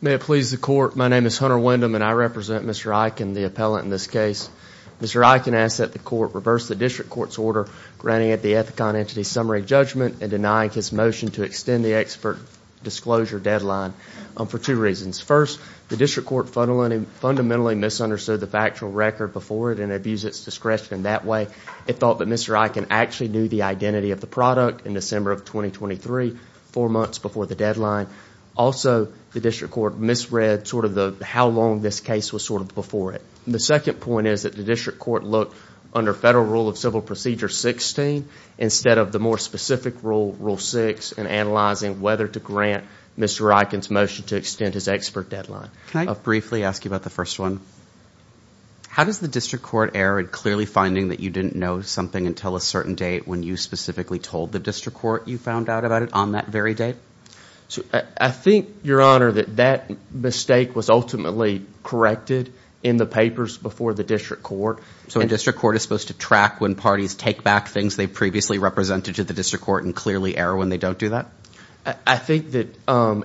May it please the court. My name is Hunter Windham and I represent Mr. Eichin, the appellant in this case. Mr. Eichin asked that the court reverse the district court's order granting it the Ethicon Entity Summary Judgment and denying his motion to extend the expert disclosure deadline for two reasons. First, the district court fundamentally misunderstood the factual record before it and abused its discretion in that way. It thought that Mr. Eichin actually knew the identity of the product in December of 2023, four months before the deadline. Also, the district court misread sort of the how long this case was sort of before it. The second point is that the district court looked under Federal Rule of Civil Procedure 16 instead of the more specific rule, Rule 6, in analyzing whether to grant Mr. Eichin's motion to extend his expert deadline. Can I briefly ask you about the first one? How does the district court err in clearly finding that you didn't know something until a certain date when you specifically told the district court you found out about it on that very date? I think, your honor, that that mistake was ultimately corrected in the papers before the district court. So a district court is supposed to track when parties take back things they previously represented to the district court and clearly error when they don't do that? I think that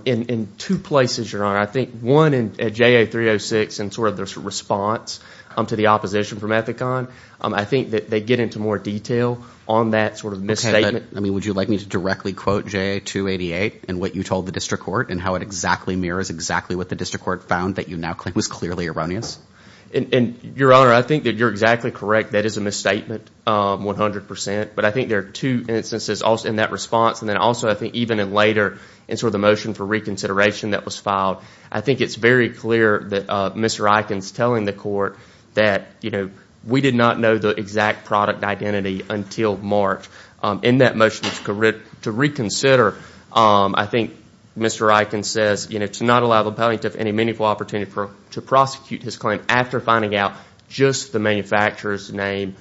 in two places, your honor. I think one in JA 306 and sort of this response to the opposition from Ethicon. I think that they get into more detail on that sort of misstatement. I mean, would you like me to directly quote JA 288 and what you told the district court and how it exactly mirrors exactly what the district court found that you now claim was clearly erroneous? And, your honor, I think that you're exactly correct. That is a misstatement, 100%. But I think there are two instances also in that response and then also I think even in later in sort of the motion for reconsideration that was filed. I think it's very clear that Mr. Eichin's telling the court that, you know, we did not know the exact product identity until March. In that motion to reconsider, I think Mr. Eichin says, you know, to not allow the appellate to have any meaningful opportunity to prosecute his claim after finding out just the manufacturer's name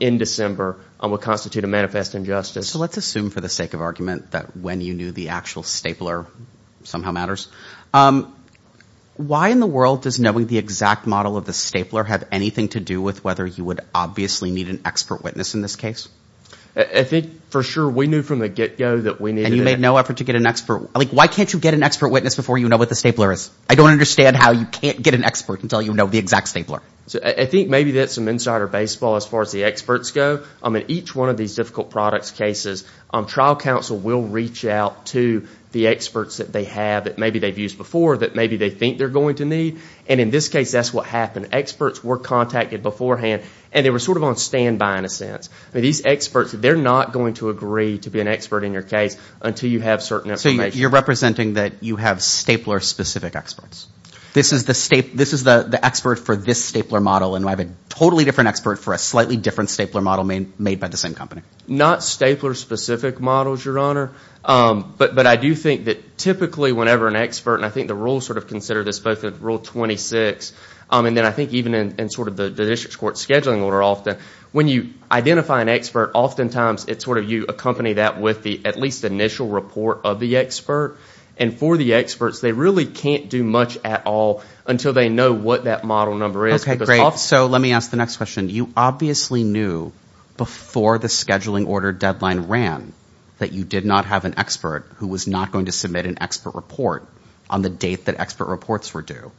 in December will constitute a manifest injustice. So let's assume for the sake of argument that when you knew the actual stapler somehow matters. Why in the world does knowing the exact model of the stapler have anything to do with whether you would obviously need an expert witness in this case? I think for sure we knew from the get-go that we need. And you made no effort to get an expert? Like why can't you get an expert witness before you know what the stapler is? I don't understand how you can't get an expert until you know the exact stapler. So I think maybe that's some insider baseball as far as the experts go. I mean each one of these difficult products cases, trial counsel will reach out to the experts that they have that maybe they've used before that maybe they think they're going to need and in this case that's what happened. Experts were contacted beforehand and they were sort of on standby in a sense. These experts, they're not going to agree to be an expert in your case until you have certain information. So you're representing that you have stapler specific experts? This is the expert for this stapler model and I have a totally different expert for a slightly different stapler model made by the same company? Not stapler specific models, your honor, but I do think that typically whenever an expert and I think the rules sort of consider this both in rule 26 and then I think even in sort of the district court scheduling order often, when you identify an expert oftentimes it's sort of you accompany that with the at least initial report of the expert and for the experts they really can't do much at all until they know what that model number is. Okay great, so let me ask the next question. You obviously knew before the scheduling order deadline ran that you did not have an expert who was not going to submit an expert report on the date that expert reports were due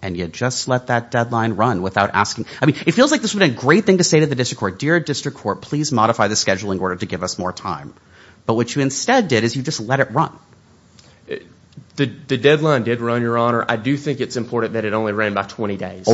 and you just let that deadline run without asking. I mean it feels like this would a great thing to say to the district court, dear district court, please modify the scheduling order to give us more time. But what you instead did is you just let it run. The deadline did run, your honor. I do think it's important that it only ran by 20 days.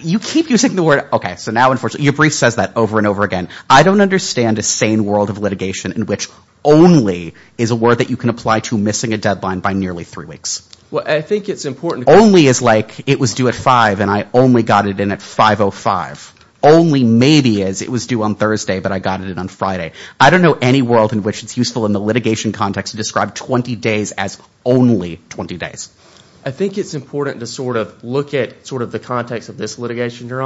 You keep using the word, okay, so now unfortunately your brief says that over and over again. I don't understand a sane world of litigation in which only is a word that you can apply to missing a deadline by nearly three weeks. Well I think it's important. Only is like it was due at 5 and I only got it in at 505. Only maybe is it was due on Thursday but I got it in on Friday. I don't know any world in which it's useful in the litigation context to describe 20 days as only 20 days. I think it's important to sort of look at sort of the context of this litigation, your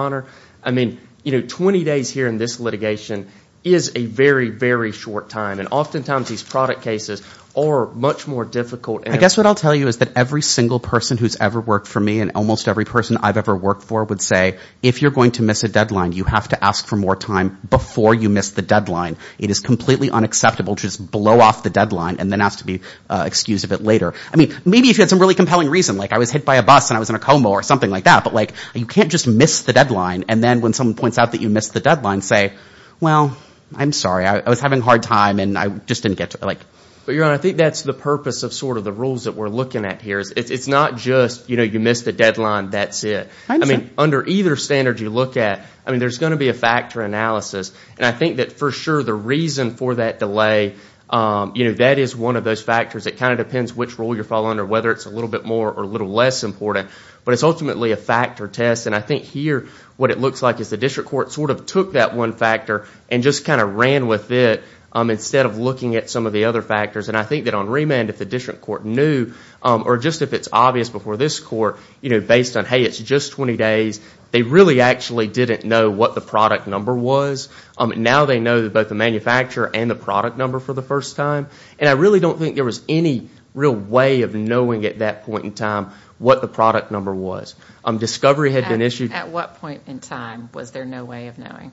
I mean you know 20 days here in this litigation is a very very short time and oftentimes these product cases are much more difficult. I guess what I'll tell you is that every single person who's ever worked for me and almost every person I've ever worked for would say if you're going to miss a deadline you have to ask for more time before you miss the deadline. It is completely unacceptable to just blow off the deadline and then ask to be excused a bit later. I mean maybe if you had some really compelling reason like I was hit by a bus and I was in a coma or something like that but like you can't just miss the deadline and then when someone points out that you missed the deadline say well I'm sorry I was having a hard time and I just didn't get to like. But your honor I think that's the purpose of sort of the rules that we're looking at here is it's not just you know you missed the deadline that's it. I mean under either standard you look at I mean there's going to be a factor analysis and I think that for sure the reason for that delay you know that is one of those factors that kind of depends which rule you're following or whether it's a little bit more or less important but it's ultimately a factor test and I think here what it looks like is the district court sort of took that one factor and just kind of ran with it instead of looking at some of the other factors and I think that on remand if the district court knew or just if it's obvious before this court you know based on hey it's just 20 days they really actually didn't know what the product number was. Now they know that both the manufacturer and the product number for the first time and I really don't think there was any real way of knowing at that point in time what the product number was. Discovery had been issued. At what point in time was there no way of knowing?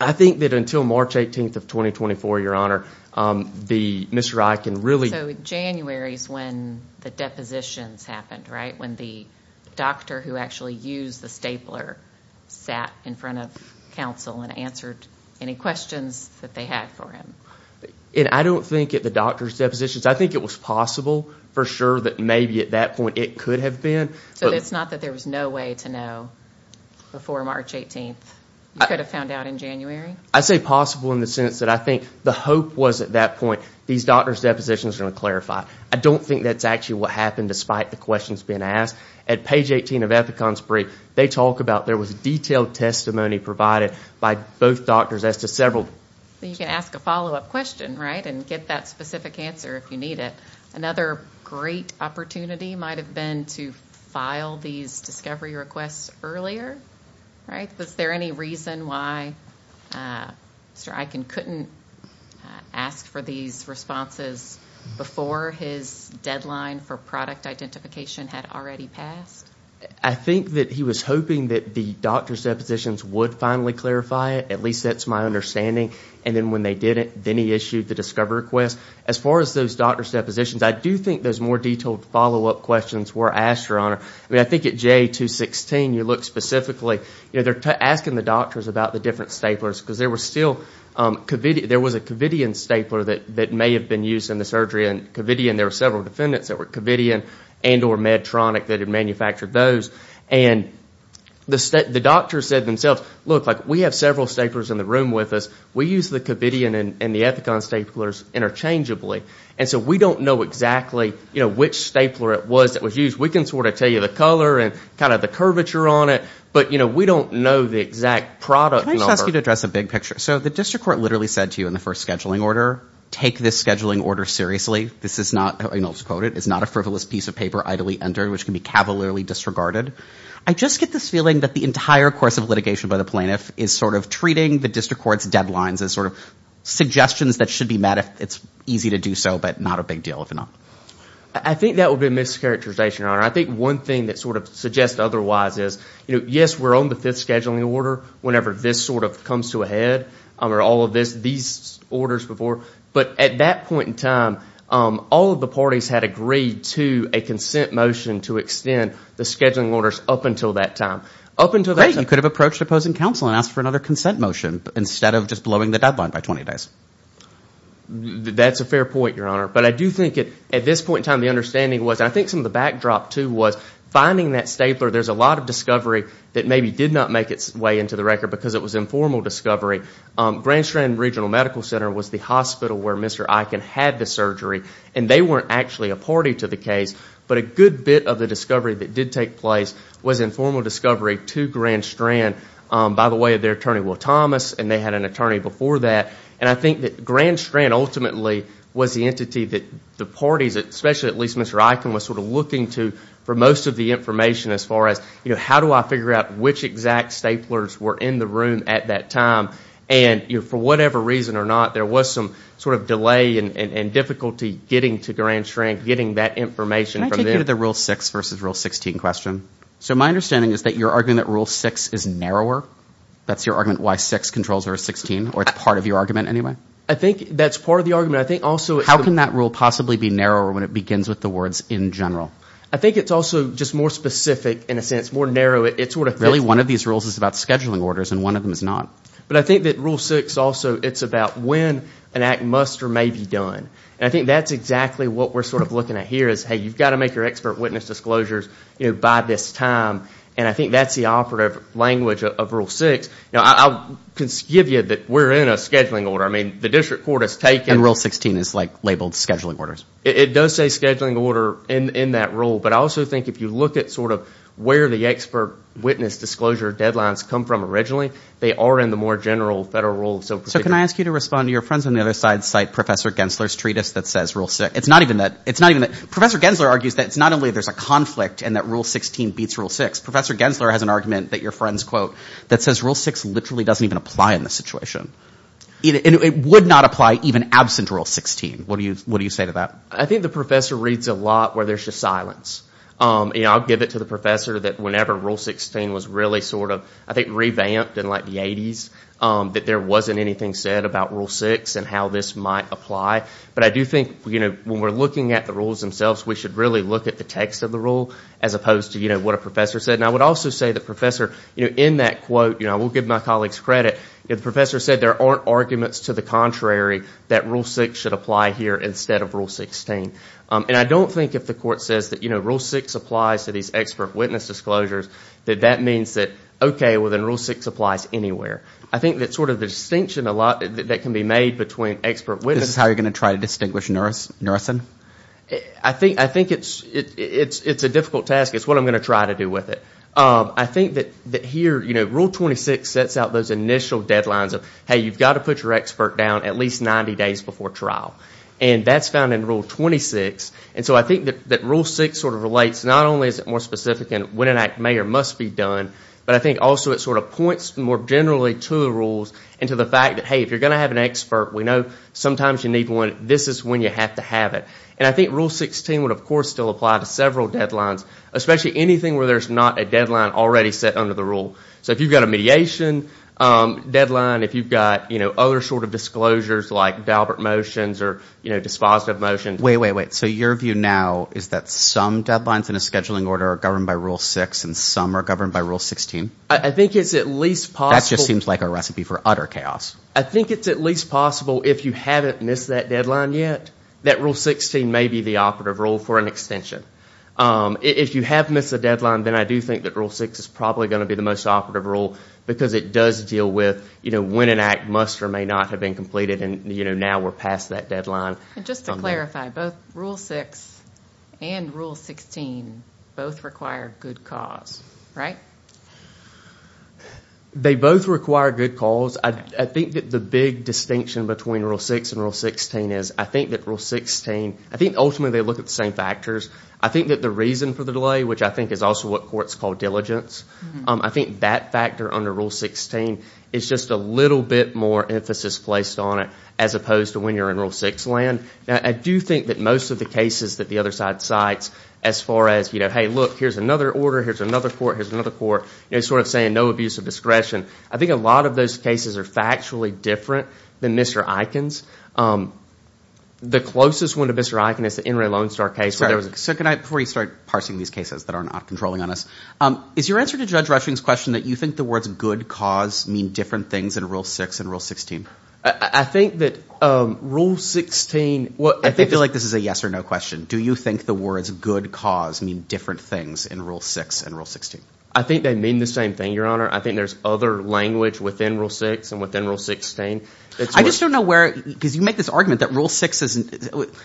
I think that until March 18th of 2024 your honor the Mr. I can really. So January's when the depositions happened right when the doctor who actually used the stapler sat in front of counsel and answered any questions that they had for him. And I don't think at the doctor's depositions I think it was possible for sure that maybe at that point it could have been. So it's not that there was no way to know before March 18th? You could have found out in January? I say possible in the sense that I think the hope was at that point these doctor's depositions are going to clarify. I don't think that's actually what happened despite the questions being asked. At page 18 of Ethicon's brief they talk about there was detailed testimony provided by both doctors as to several. You can ask a follow-up question right and get that specific answer if you need it. Another great opportunity might have been to file these discovery requests earlier. Right? Was there any reason why Mr. I can couldn't ask for these responses before his deadline for product identification had already passed? I think that he was hoping that the doctor's depositions would finally clarify it at least that's my understanding. And then when they didn't, then he issued the discovery request. As far as those doctor's depositions, I do think those more detailed follow-up questions were asked, Your Honor. I mean I think at J216 you look specifically, you know, they're asking the doctors about the different staplers because there was still, there was a Covidian stapler that that may have been used in the surgery. And Covidian, there were several defendants that were Covidian and or Medtronic that had manufactured those. And the doctor said themselves, look like we have several staplers in the room with us. We use the Covidian and the Ethicon staplers interchangeably. And so we don't know exactly, you know, which stapler it was that was used. We can sort of tell you the color and kind of the curvature on it. But, you know, we don't know the exact product. Can I just ask you to address a big picture? So the district court literally said to you in the first scheduling order, take this scheduling order seriously. This is not, I'll just quote it, it's not a frivolous piece of paper idly entered which can be cavalierly disregarded. I just get this feeling that the entire course of litigation by the district court's deadlines is sort of suggestions that should be met if it's easy to do so, but not a big deal if not. I think that would be a mischaracterization, Your Honor. I think one thing that sort of suggests otherwise is, you know, yes, we're on the fifth scheduling order whenever this sort of comes to a head or all of this, these orders before. But at that point in time, all of the parties had agreed to a consent motion to extend the scheduling orders up until that time. Up until that time. Great, you could have approached opposing counsel and asked for another consent motion instead of just blowing the deadline by 20 days. That's a fair point, Your Honor. But I do think it, at this point in time, the understanding was, I think some of the backdrop too was, finding that stapler, there's a lot of discovery that maybe did not make its way into the record because it was informal discovery. Grand Strand Regional Medical Center was the hospital where Mr. Eichen had the surgery and they weren't actually a party to the case, but a good bit of the discovery that did take place was informal discovery to Grand Strand. By the way, their attorney, Will Thomas, and they had an attorney before that. And I think that Grand Strand ultimately was the entity that the parties, especially at least Mr. Eichen, was sort of looking to for most of the information as far as, you know, how do I figure out which exact staplers were in the room at that time? And for whatever reason or not, there was some sort of delay and difficulty getting to Grand Strand, getting that information. Can I take you to the Rule 6 versus Rule 16 question? So my understanding is that you're arguing that Rule 6 is narrower. That's your argument why 6 controls or 16, or it's part of your argument anyway? I think that's part of the argument. I think also... How can that rule possibly be narrower when it begins with the words in general? I think it's also just more specific in a sense, more narrow. It's sort of... Really one of these rules is about scheduling orders and one of them is not. But I think that Rule 6 also, it's about when an act must or may be done. And I think that's exactly what we're sort of looking at here is, hey, you've got to make your expert witness disclosures, you know, by this time. And I think that's the operative language of Rule 6. Now, I'll give you that we're in a scheduling order. I mean, the district court has taken... And Rule 16 is like labeled scheduling orders. It does say scheduling order in that rule. But I also think if you look at sort of where the expert witness disclosure deadlines come from originally, they are in the more general federal rules. So can I ask you to respond to your friends on the other side, cite Professor Gensler's treatise that says Rule 6. It's not even that... Professor Gensler argues that it's not only there's a conflict and that Rule 16 beats Rule 6. Professor Gensler has an argument that your friends quote that says Rule 6 literally doesn't even apply in this situation. It would not apply even absent Rule 16. What do you say to that? I think the professor reads a lot where there's just silence. You know, I'll give it to the professor that whenever Rule 16 was really sort of, I think, revamped in like the 80s, that there wasn't anything said about Rule 6 and how this might apply. But I do think, you know, when we're looking at the rules themselves, we should really look at the context of the rule as opposed to, you know, what a professor said. And I would also say the professor, you know, in that quote, you know, I will give my colleagues credit, if the professor said there aren't arguments to the contrary that Rule 6 should apply here instead of Rule 16. And I don't think if the court says that, you know, Rule 6 applies to these expert witness disclosures, that that means that, okay, well then Rule 6 applies anywhere. I think that sort of the distinction a lot that can be made between expert witness... This is how you're going to try to distinguish a nurse. I think it's a difficult task. It's what I'm going to try to do with it. I think that here, you know, Rule 26 sets out those initial deadlines of, hey, you've got to put your expert down at least 90 days before trial. And that's found in Rule 26. And so I think that Rule 6 sort of relates, not only is it more specific in when an act may or must be done, but I think also it sort of points more generally to the rules and to the fact that, hey, if you're going to have an expert, we know sometimes you need one. This is when you have to have it. And I think Rule 16 would, of course, still apply to several deadlines, especially anything where there's not a deadline already set under the rule. So if you've got a mediation deadline, if you've got, you know, other sort of disclosures like Valbert motions or, you know, dispositive motions... Wait, wait, wait. So your view now is that some deadlines in a scheduling order are governed by Rule 6 and some are governed by Rule 16? I think it's at least possible... That just seems like a recipe for utter chaos. I think it's at least possible, if you haven't missed that deadline yet, that Rule 16 may be the operative rule for an extension. If you have missed a deadline, then I do think that Rule 6 is probably going to be the most operative rule because it does deal with, you know, when an act must or may not have been completed and, you know, now we're past that deadline. And just to clarify, both Rule 6 and Rule 16 both require good cause, right? They both require good cause. I think that the big distinction between Rule 6 and Rule 16 is, I think that Rule 16, I think ultimately they look at the same factors. I think that the reason for the delay, which I think is also what courts call diligence, I think that factor under Rule 16 is just a little bit more emphasis placed on it as opposed to when you're in Rule 6 land. Now, I do think that most of the cases that the other side cites as far as, you know, hey look, here's another order, here's another court, here's another court, you know, sort of saying no abuse of discretion, I think a lot of those cases are factually different than Mr. Eichen's. The closest one to Mr. Eichen is the NRA Lone Star case. So can I, before you start parsing these cases that are not controlling on us, is your answer to Judge Rushing's question that you think the words good cause mean different things in Rule 6 and Rule 16? I think that Rule 16, well, I feel like this is a yes-or-no question. Do you think the words good cause mean different things in Rule 6 and Rule 16? I think they mean the same thing, Your Honor. I think there's other language within Rule 6 and within Rule 16. I just don't know where, because you make this argument that Rule 6 isn't,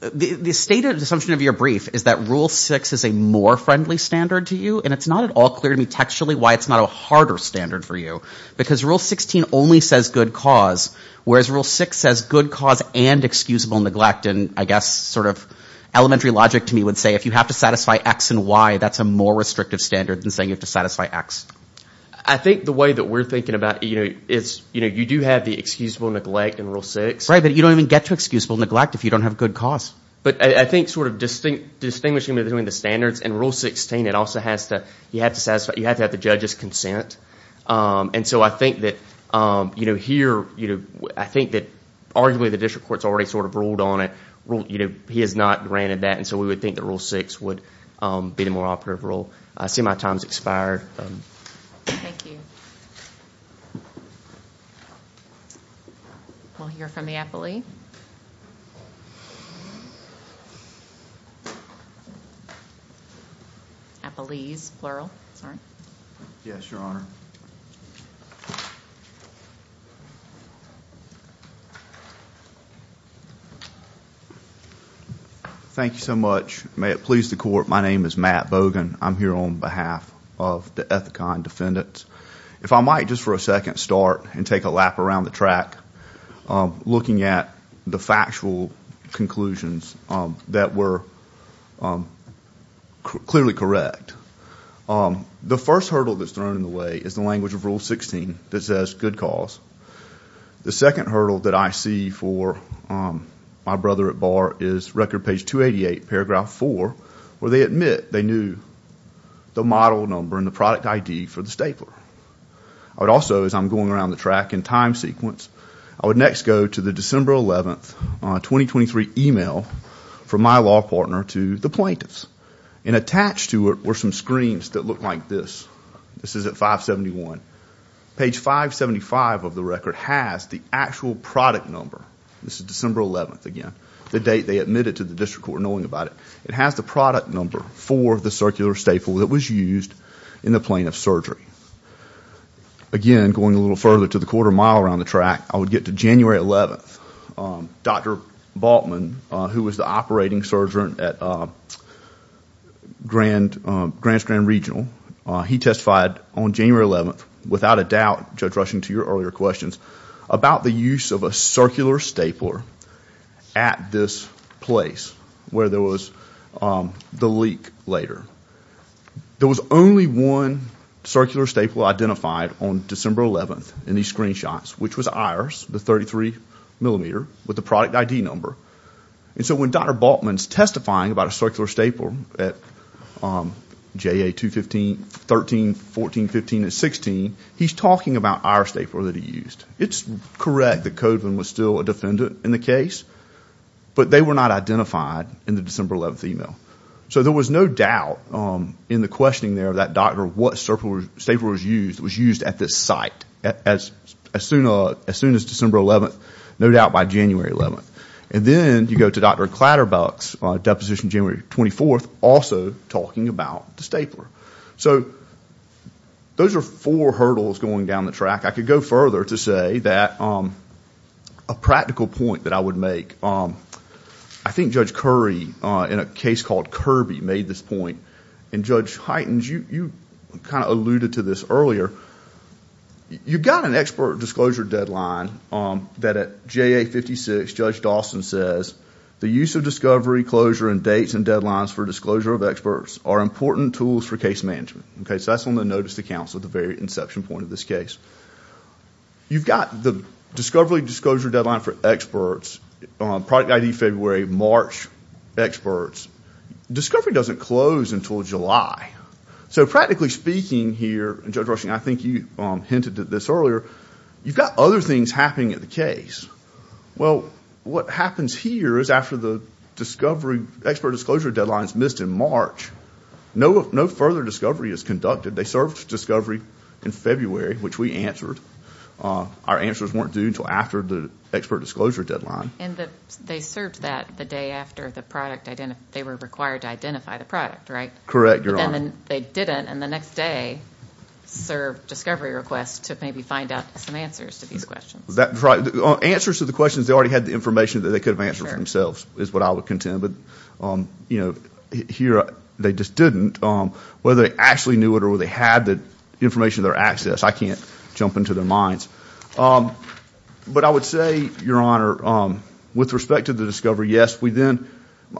the state of assumption of your brief is that Rule 6 is a more friendly standard to you and it's not at all clear to me textually why it's not a harder standard for you because Rule 16 only says good cause, whereas Rule 6 says good cause and excusable neglect. And I guess sort of elementary logic to me would say if you have to satisfy X and Y, that's a more restrictive standard than saying you have to satisfy X. I think the way that we're thinking about it, you know, is, you know, you do have the excusable neglect in Rule 6. Right, but you don't even get to excusable neglect if you don't have good cause. But I think sort of distinguishing between the standards and Rule 16, it also has to, you have to satisfy, you have to have the judge's consent. And so I think that, you know, here, you know, I think that arguably the district court's already sort of ruled on it, you know, he has not granted that, and so we would think that Rule 6 would be the more operative rule. I see my time's expired. We'll hear from the appellee. Appellees, plural. Yes, Your Honor. Thank you so much. May it please the court, my name is Matt Bogan. I'm here on behalf of the Ethicon Defendants. If I might, just for a second, start and take a look at the factual conclusions that were clearly correct. The first hurdle that's thrown in the way is the language of Rule 16 that says good cause. The second hurdle that I see for my brother at bar is record page 288, paragraph 4, where they admit they knew the model number and the product ID for the stapler. I would also, as I'm going around the track in time sequence, I would next go to the December 11th, 2023 email from my law partner to the plaintiffs, and attached to it were some screens that look like this. This is at 571. Page 575 of the record has the actual product number. This is December 11th, again, the date they admitted to the district court knowing about it. It has the product number for the circular staple that was used in the plaintiff's surgery. Again, going a little further to the quarter mile around the track, I would get to January 11th. Dr. Baltman, who was the operating surgeon at Grants Grand Regional, he testified on January 11th, without a doubt, Judge Rushing, to your earlier questions, about the use of a circular stapler at this place where there was the leak later. There was only one circular staple identified on December 11th in these screenshots, which was ours, the 33 millimeter with the product ID number. So when Dr. Baltman's testifying about a circular staple at JA 215, 13, 14, 15, and 16, he's talking about our stapler that he used. It's correct that Kodland was still a defendant in the case, but they were not identified in the December 11th email. So there was no doubt in the questioning there of that doctor what circular staple was used at this site, as soon as December 11th, no doubt by January 11th. And then you go to Dr. Clatterbuck's deposition January 24th, also talking about the stapler. So those are four hurdles going down the track. I could go further to say that a practical point that I would make, I think Judge Curry, in a case called Kirby, made this point. And Judge Heitens, you kind of alluded to this earlier. You've got an expert disclosure deadline that at JA 56, Judge Dawson says, the use of discovery, closure, and dates and deadlines for disclosure of experts are important tools for case management. So that's on the notice to counsel at the very inception point of this case. You've got the discovery disclosure deadline for experts, product ID February, March experts. Discovery doesn't close until July. So practically speaking here, and Judge Rushing, I think you hinted at this earlier, you've got other things happening at the case. Well, what happens here is after the discovery, expert disclosure deadline is missed in March, no further discovery is conducted. They served discovery in February, which we answered. Our answers weren't due until after the expert disclosure deadline. And they served that the day after the product, they were required to identify the product, right? Correct, Your Honor. And then they didn't, and the next day served discovery requests to maybe find out some answers to these questions. That's right. Answers to the questions, they already had the information that they could have answered themselves, is what I would contend. But, you know, here they just didn't. Whether they actually knew it or whether they had the information, their access, I can't jump into their minds. But I would say, Your Honor, with respect to the discovery, yes, we then,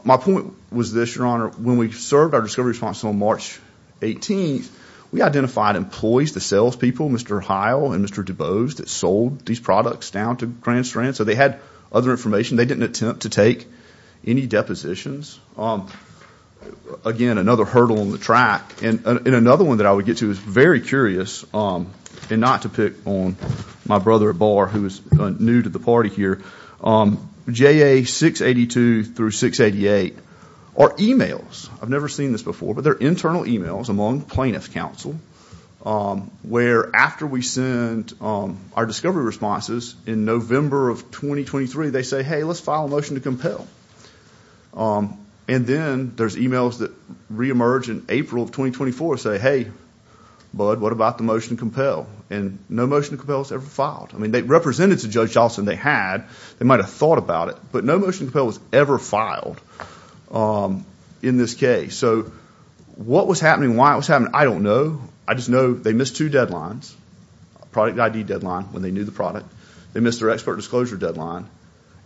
my point was this, Your Honor, when we served our discovery response on March 18th, we identified employees, the salespeople, Mr. Heil and Mr. Dubose, that sold these products down to Grand Strand. So they had other information. They didn't attempt to take any depositions. Again, another hurdle on the track. And another one that I would get to is very curious, and not to pick on my brother at bar who is new to the party here, JA 682 through 688 are emails. I've never seen this before, but they're internal emails among plaintiff's counsel, where after we send our discovery responses in November of 2023, they say, hey, let's file a motion to compel. And then there's emails that reemerge in April of 2024 say, hey, bud, what about the motion to compel? And no motion to compel was ever filed. I mean, they represented to Judge Johnson. They had. They might have thought about it. But no motion to compel was ever filed in this case. So what was happening, why it was happening, I don't know. I just know they missed two deadlines. Product ID deadline when they knew the product. They missed their expert disclosure deadline.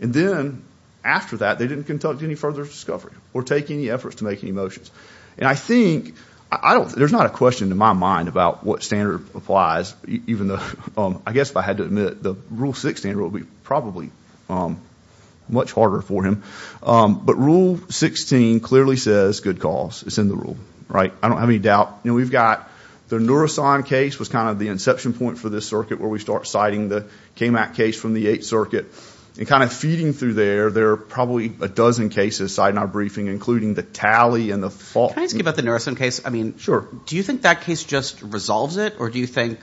And then after that, they didn't conduct any further discovery or take any efforts to make any motions. And I think, I don't, there's not a question in my mind about what standard applies, even though, I guess if I had to admit, the Rule 6 standard would be probably much harder for him. But Rule 16 clearly says good cause. It's in the rule, right? I don't have any doubt. You know, we've got the Nurasan case was kind of the inception point for this circuit where we start citing the KMAC case from the 8th Circuit. And kind of feeding through there, there are probably a dozen cases cited in our briefing, including the tally and the fault. Can I ask you about the Nurasan case? I mean, sure. Do you think that case just resolves it? Or do you think,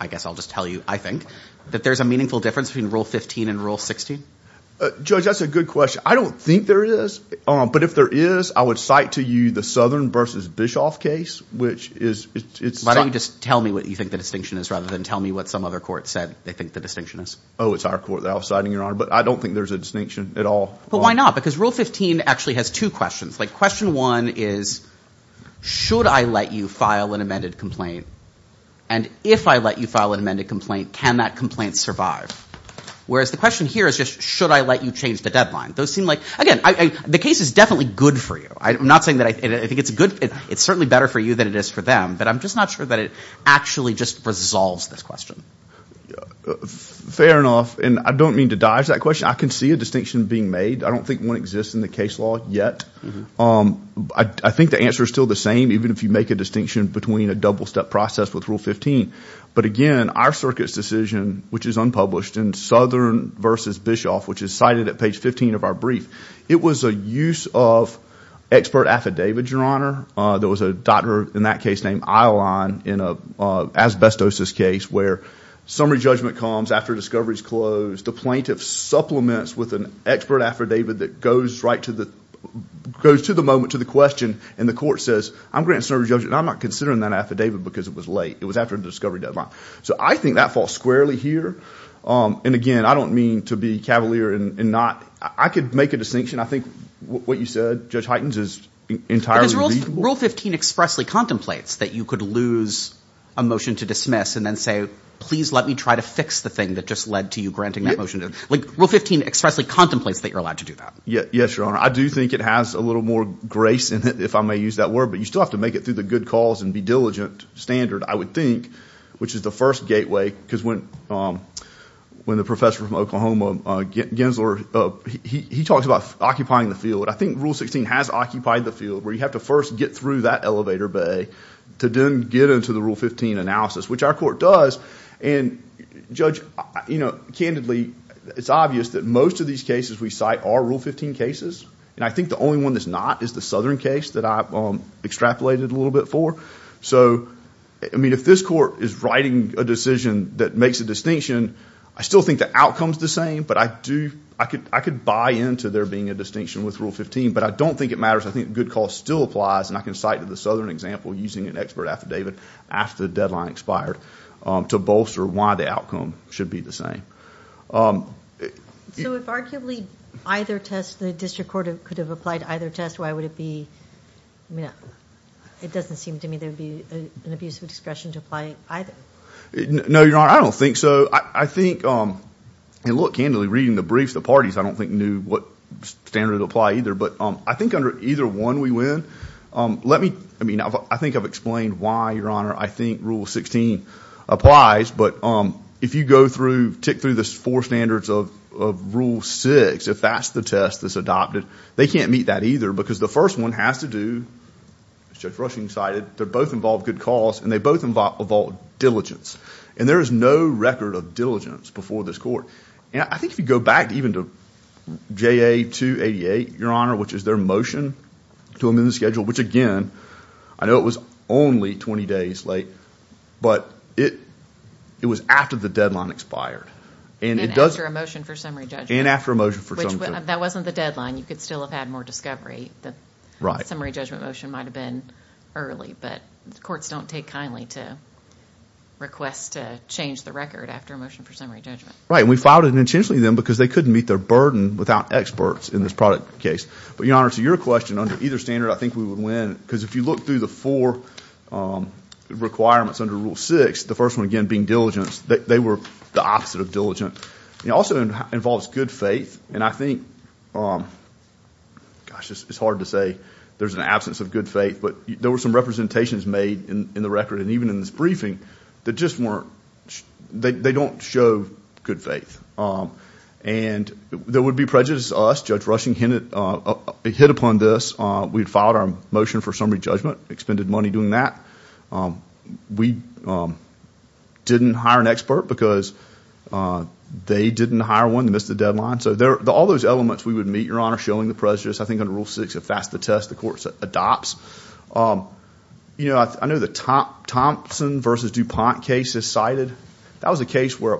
I guess I'll just tell you, I think, that there's a meaningful difference between Rule 15 and Rule 16? Judge, that's a good question. I don't think there is. But if there is, I would cite to you the Southern versus Bischoff case, which is. Why don't you just tell me what you think the distinction is rather than tell me what some other court said they think the distinction is? Oh, it's our court that I'll cite, Your Honor. But I don't think there's a distinction at all. But why not? Because Rule 15 actually has two questions. Like, question one is, should I let you file an amended complaint? And if I let you file an amended complaint, can that complaint survive? Whereas the question here is just, should I let you change the deadline? Those seem like, again, the case is definitely good for you. I'm not saying that I think it's good. It's certainly better for you than it is for them. But I'm just not sure that it actually just resolves this question. Fair enough. And I don't mean to dodge that question. I can see a distinction being made. I don't think one exists in the case law yet. I think the answer is still the same, even if you make a distinction between a double-step process with Rule 15. But again, our circuit's decision, which is unpublished in Southern versus Bischoff, which is cited at page 15 of our brief, it was a use of expert affidavit, Your Honor. There was a doctor in that case named Eyalon in an asbestosis case where summary judgment comes after discovery is closed. The plaintiff supplements with an expert affidavit that goes to the moment, to the question, and the court says, I'm granting summary judgment, and I'm not considering that affidavit because it was late. It was after the discovery deadline. So I think that falls squarely here. And again, I don't mean to be cavalier and not. I could make a distinction. I think what you said, Judge Heitens, is entirely reasonable. Rule 15 expressly contemplates that you could lose a motion to dismiss and then say, please let me try to fix the thing that just led to you granting that motion. Like, Rule 15 expressly contemplates that you're allowed to do that. Yes, Your Honor. I do think it has a little more grace in it, if I may use that word. But you still have to make it through the good cause and be diligent, standard, I would think, which is the first gateway. Because when the professor from Oklahoma, Gensler, he talks about occupying the where you have to first get through that elevator bay to then get into the Rule 15 analysis, which our court does. And, Judge, candidly, it's obvious that most of these cases we cite are Rule 15 cases. And I think the only one that's not is the Southern case that I extrapolated a little bit for. So, I mean, if this court is writing a decision that makes a distinction, I still think the outcome's the same. But I could buy into there being distinction with Rule 15. But I don't think it matters. I think good cause still applies. And I can cite the Southern example using an expert affidavit after the deadline expired to bolster why the outcome should be the same. So, if arguably either test, the district court could have applied either test, why would it be, I mean, it doesn't seem to me there'd be an abuse of discretion to apply either. No, Your Honor, I don't think so. I think, and look, candidly, reading the briefs, the parties, I don't think knew what standard would apply either. But I think under either one we win. Let me, I mean, I think I've explained why, Your Honor, I think Rule 16 applies. But if you go through, tick through the four standards of Rule 6, if that's the test that's adopted, they can't meet that either. Because the first one has to do, as Judge Rushing cited, they both involve good cause and they both involve diligence. And there is no record of diligence before this court. And I think if you go back even to JA 288, Your Honor, which is their motion to amend the schedule, which again, I know it was only 20 days late, but it was after the deadline expired. And after a motion for summary judgment. And after a motion for summary judgment. That wasn't the deadline. You could still have had more discovery. The summary judgment motion might have been early. But the courts don't take kindly to requests to change the record after a motion for summary judgment. Right, and we filed it intentionally then because they couldn't meet their burden without experts in this product case. But Your Honor, to your question, under either standard I think we would win. Because if you look through the four requirements under Rule 6, the first one again being diligence, they were the opposite of diligent. It also involves good faith. And I think, gosh, it's hard to say there's an absence of good faith. But there were some representations made in the record and even in this briefing that just weren't, they don't show good faith. And there would be prejudice to us. Judge Rushing hit upon this. We had filed our motion for summary judgment, expended money doing that. We didn't hire an expert because they didn't hire one. They missed the deadline. So all those elements we would meet, Your Honor, showing the prejudice. I think under Rule 6, if that's the court's test, the court adopts. I know the Thompson v. DuPont case is cited. That was a case where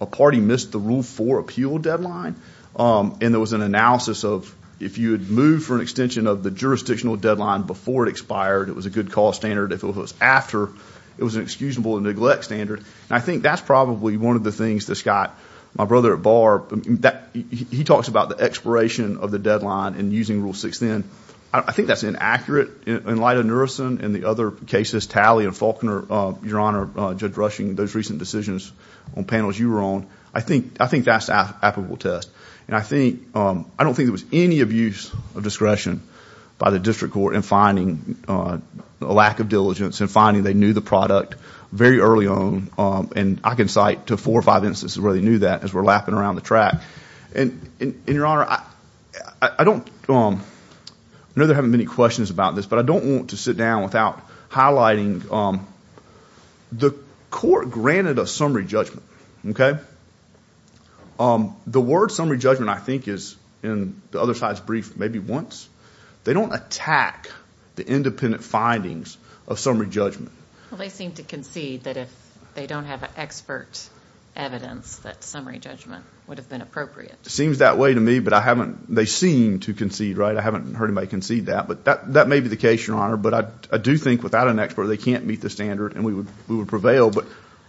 a party missed the Rule 4 appeal deadline. And there was an analysis of if you had moved for an extension of the jurisdictional deadline before it expired, it was a good cause standard. If it was after, it was an excusable neglect standard. And I think that's probably one of the things that Scott, my brother at bar, he talks about the expiration of the deadline and using Rule 6 then. I think that's inaccurate in light of Nurison and the other cases, Talley and Faulkner, Your Honor, Judge Rushing, those recent decisions on panels you were on. I think that's an applicable test. And I don't think there was any abuse of discretion by the district court in finding a lack of diligence and finding they knew the product very early on. And I can cite to four or five instances where they knew that as we're lapping around the track. And Your Honor, I don't, I know there haven't been any questions about this, but I don't want to sit down without highlighting the court granted a summary judgment, okay? The word summary judgment, I think is in the other side's brief, maybe once. They don't attack the independent findings of summary judgment. Well, they seem to concede that if they don't have an expert evidence that summary judgment would have been appropriate. Seems that way to me, but I haven't, they seem to concede, right? I haven't heard anybody concede that, but that may be the case, Your Honor. But I do think without an expert, they can't meet the standard and we would prevail.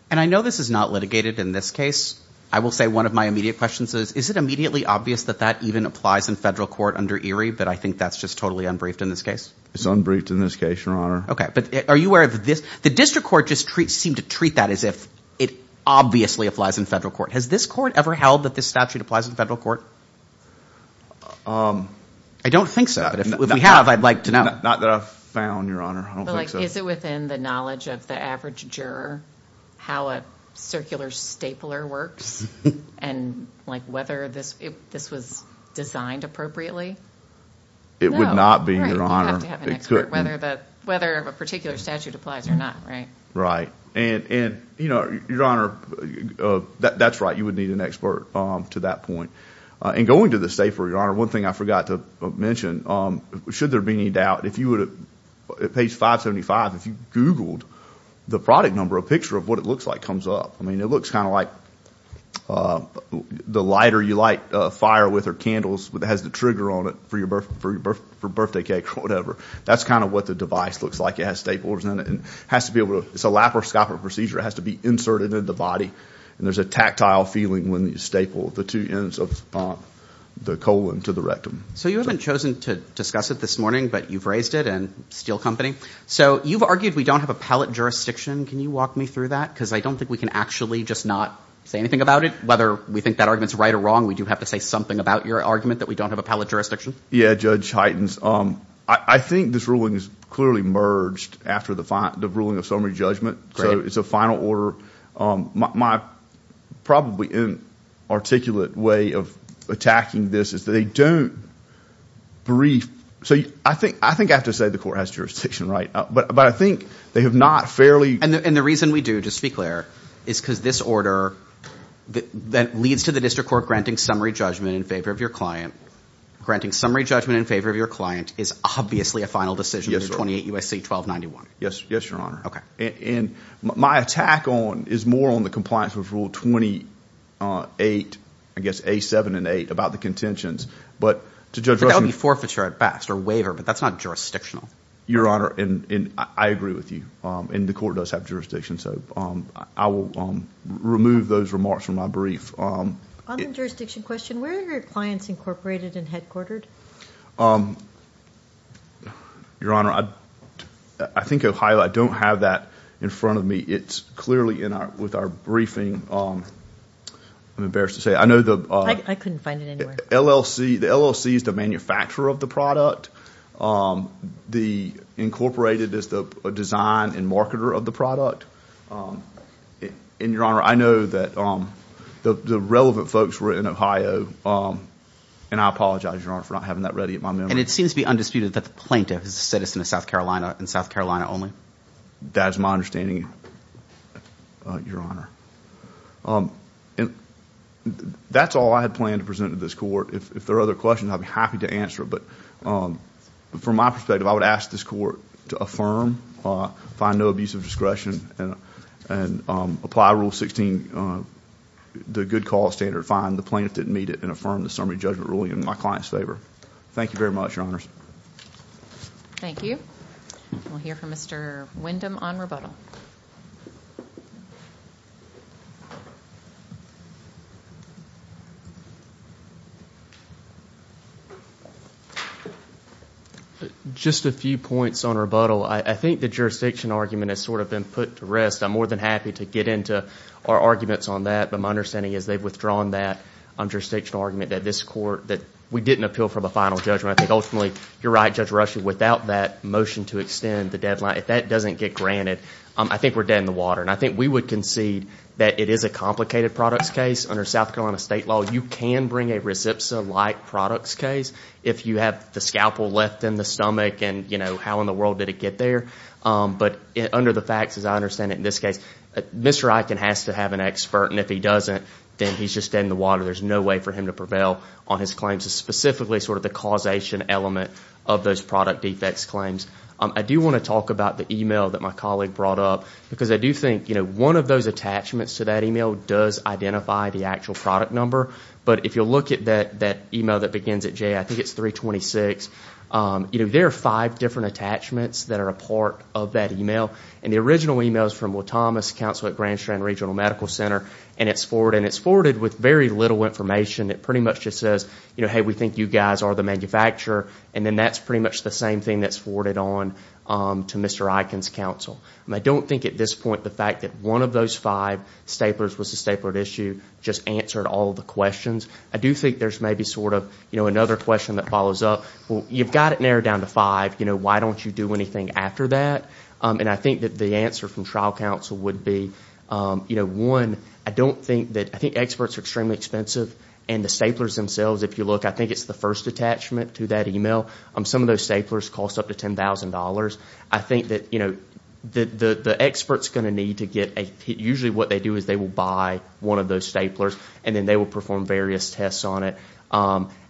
And I know this is not litigated in this case. I will say one of my immediate questions is, is it immediately obvious that that even applies in federal court under Erie? But I think that's just totally unbriefed in this case. It's unbriefed in this case, Your Honor. Okay. But are you aware of this? The district court just seemed to treat that as if it obviously applies in federal court. Has this court ever held that this statute applies in federal court? I don't think so, but if we have, I'd like to know. Not that I've found, Your Honor. I don't think so. Is it within the knowledge of the average juror how a circular stapler works and whether this was designed appropriately? It would not be, Your Honor. You'd have to have an expert, whether a particular statute applies or not, right? Right. And, Your Honor, that's right. You would need an expert to that point. And going to the stapler, Your Honor, one thing I forgot to mention, should there be any doubt, if you would, at page 575, if you googled the product number, a picture of what it looks like comes up. I mean, it looks kind of like the lighter you light a fire with or candles that has the trigger on it for your birthday cake or whatever. That's kind of what the device looks like. It has staplers in it. It's a laparoscopic procedure. It has to be inserted in the body. And there's a tactile feeling when you staple the two ends of the colon to the rectum. So you haven't chosen to discuss it this morning, but you've raised it in steel company. So you've argued we don't have a pallet jurisdiction. Can you walk me through that? Because I don't think we can actually just not say anything about it. Whether we think that argument's right or wrong, we do have to say something about your argument that we don't have a pallet jurisdiction. Yeah, Judge Heitens, I think this ruling is clearly merged after the ruling of summary judgment. So it's a final order. My probably inarticulate way of attacking this is that they don't brief. So I think I have to say the court has jurisdiction, right? But I think they have not fairly- And the reason we do, just to be clear, is because this order that leads to the district court granting summary judgment in favor of your client is obviously a final decision under 28 U.S.C. 1291. Yes, Your Honor. And my attack is more on the compliance with Rule 28, I guess, A7 and 8 about the contentions. But to Judge- But that would be forfeiture at best or waiver, but that's not jurisdictional. Your Honor, and I agree with you. And the court does have jurisdiction. So I will remove those remarks from my brief. On the jurisdiction question, where are your clients incorporated and headquartered? Your Honor, I think Ohio, I don't have that in front of me. It's clearly with our briefing. I'm embarrassed to say. I know the- I couldn't find it anywhere. LLC. The LLC is the manufacturer of the product. The incorporated is the design and marketer of product. And Your Honor, I know that the relevant folks were in Ohio. And I apologize, Your Honor, for not having that ready in my memory. And it seems to be undisputed that the plaintiff is a citizen of South Carolina and South Carolina only? That is my understanding, Your Honor. And that's all I had planned to present to this court. If there are other questions, I'd be happy to answer. But from my perspective, I would ask this court to affirm, find no abuse of discretion, and apply Rule 16, the good cause standard, find the plaintiff didn't meet it, and affirm the summary judgment ruling in my client's favor. Thank you very much, Your Honors. Thank you. We'll hear from Mr. Windham on rebuttal. Just a few points on rebuttal. I think the jurisdiction argument has sort of been put to rest. I'm more than happy to get into our arguments on that. But my understanding is they've withdrawn that jurisdiction argument that this court- that we didn't appeal for the final judgment. I think ultimately, you're right, Judge Rush, without that motion to extend the deadline, if that doesn't get granted, I think we're dead in the water. And I think we would concede that it is a complicated products case. Under South Carolina state law, you can bring a RESPSA-like products case if you have the scalpel left in the stomach and how in the world did it get there. But under the facts, as I understand it in this case, Mr. Eichen has to have an expert. And if he doesn't, then he's just dead in the water. There's no way for him to prevail on his claims, specifically sort of the causation element of those product defects claims. I do want to talk about the email that my colleague brought up. Because I do think one of those attachments to that email does identify the actual product number. But if you'll look at that email that begins at J, I think it's 326. There are five different attachments that are a part of that email. And the original email is from Will Thomas, counsel at Grand Strand Regional Medical Center. And it's forwarded with very little information. It pretty much just says, hey, we think you guys are the manufacturer. And then that's pretty much the same thing that's forwarded on to Mr. Eichen's counsel. I don't think at this point the fact that one of those five staplers was a stapled issue just answered all the questions. I do think there's maybe sort of another question that follows up. Well, you've got it narrowed down to five. Why don't you do anything after that? And I think that the answer from trial counsel would be, one, I don't think that, I think experts are extremely expensive. And the staplers themselves, if you look, I think it's the first attachment to that email. Some of those staplers cost up to ten thousand dollars. I think that the expert's going to need to get a, usually what they do is they will buy one of those staplers. And then they will perform various tests on it.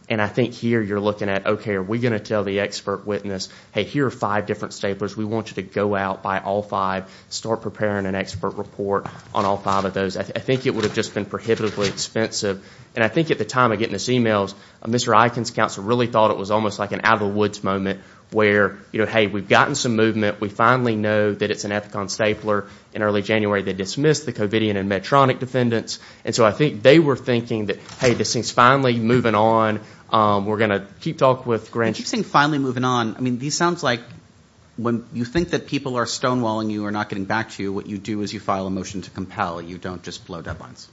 And I think here you're looking at, okay, are we going to tell the expert witness, hey, here are five different staplers. We want you to go out, buy all five, start preparing an expert report on all five of those. I think it would have just been prohibitively expensive. And I think at the time of getting this email, Mr. Eikens' counsel really thought it was almost like an out-of-the-woods moment where, hey, we've gotten some movement. We finally know that it's an Epicon stapler. In early January, they dismissed the Covidian and Medtronic defendants. And so I think they were thinking that, hey, this thing's finally moving on. We're going to keep talking with Grant. Keep saying finally moving on. I mean, this sounds like when you think that people are stonewalling you or not getting back to you, what you do is you file a motion to compel. You don't just blow deadlines.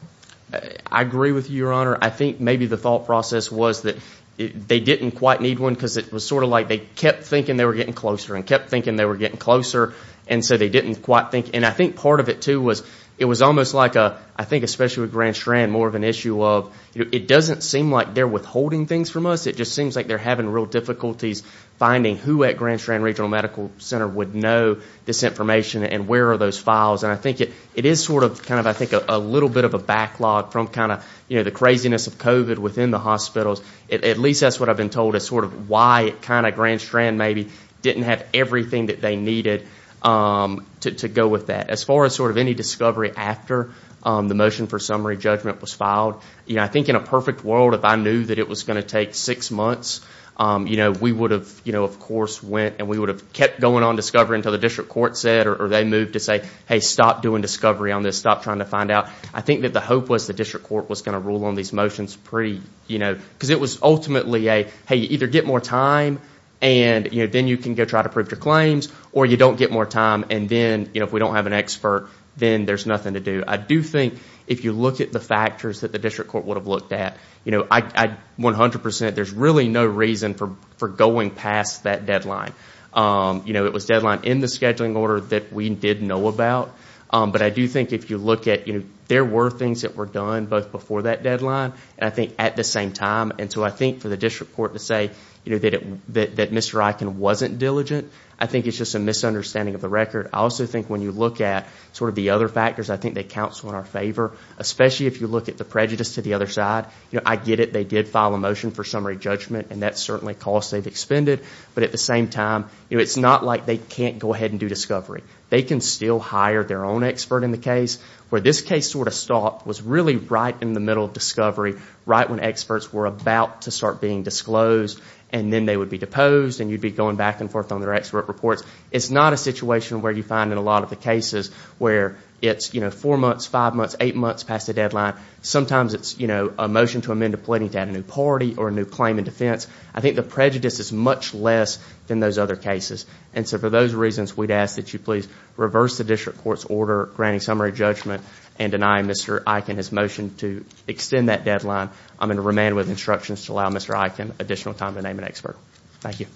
I agree with you, Your Honor. I think maybe the thought process was that they didn't quite need one because it was sort of like they kept thinking they were getting closer and kept thinking they were getting closer. And so they didn't quite think. And I think part of it, too, was it was almost like, I think especially with Grand Strand, more of an issue of it doesn't seem like they're withholding things from us. It just seems like they're having real difficulties finding who at Grand Strand Regional Medical Center would know this information and where are those files. And I think it is sort of kind of, I think, a little bit of a backlog from kind of, you know, the craziness of COVID within the hospitals. At least that's what I've been told is sort of why it kind of Grand Strand maybe didn't have everything that they needed to go with that. As far as sort of any discovery after the motion for summary judgment was filed, you know, I think in a perfect world if I knew that it was going to take six months, you know, we would have, you know, of course went and we would have kept going on discovery until the district court said or they moved to say, hey, stop doing discovery on this. Stop trying to find out. I think that the hope was the district court was going to rule on these motions pretty, you know, because it was ultimately a, hey, you either get more time and, you know, then you can go try to prove your claims or you don't get more time and then, you know, if we don't have an expert, then there's nothing to do. I do think if you look at the factors that the district court would have looked at, you know, I 100 percent, there's really no reason for going past that deadline. You know, it was deadline in the scheduling order that we did know about. But I do think if you look at, you know, there were things that were done both before that deadline and I think at the same time. And so I think for the district court to say, you know, that Mr. Eichen wasn't diligent, I think it's just a misunderstanding of the record. I also think when you look at sort of the other factors, I think they counsel in our favor, especially if you look at the prejudice to the other side. You know, I get it, they did file a motion for summary judgment and that's certainly cost they've expended. But at the same time, it's not like they can't go ahead and do discovery. They can still hire their own expert in the case. Where this case sort of stopped was really right in the middle of discovery, right when experts were about to start being disclosed and then they would be deposed and you'd be going back and forth on their expert reports. It's not a situation where you find in a lot of the cases where it's, you know, four months, five months, eight months past the deadline. Sometimes it's, you know, a motion to amend a plenty to add a new party or a new claim in defense. I think the prejudice is much less than those other cases and so for those reasons, we'd ask that you please reverse the district court's order granting summary judgment and deny Mr. Eichen his motion to extend that deadline. I'm going to remain with instructions to allow Mr. Eichen additional time to name an expert. Thank you.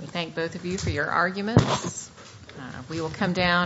We thank both of you for your arguments. We will come down.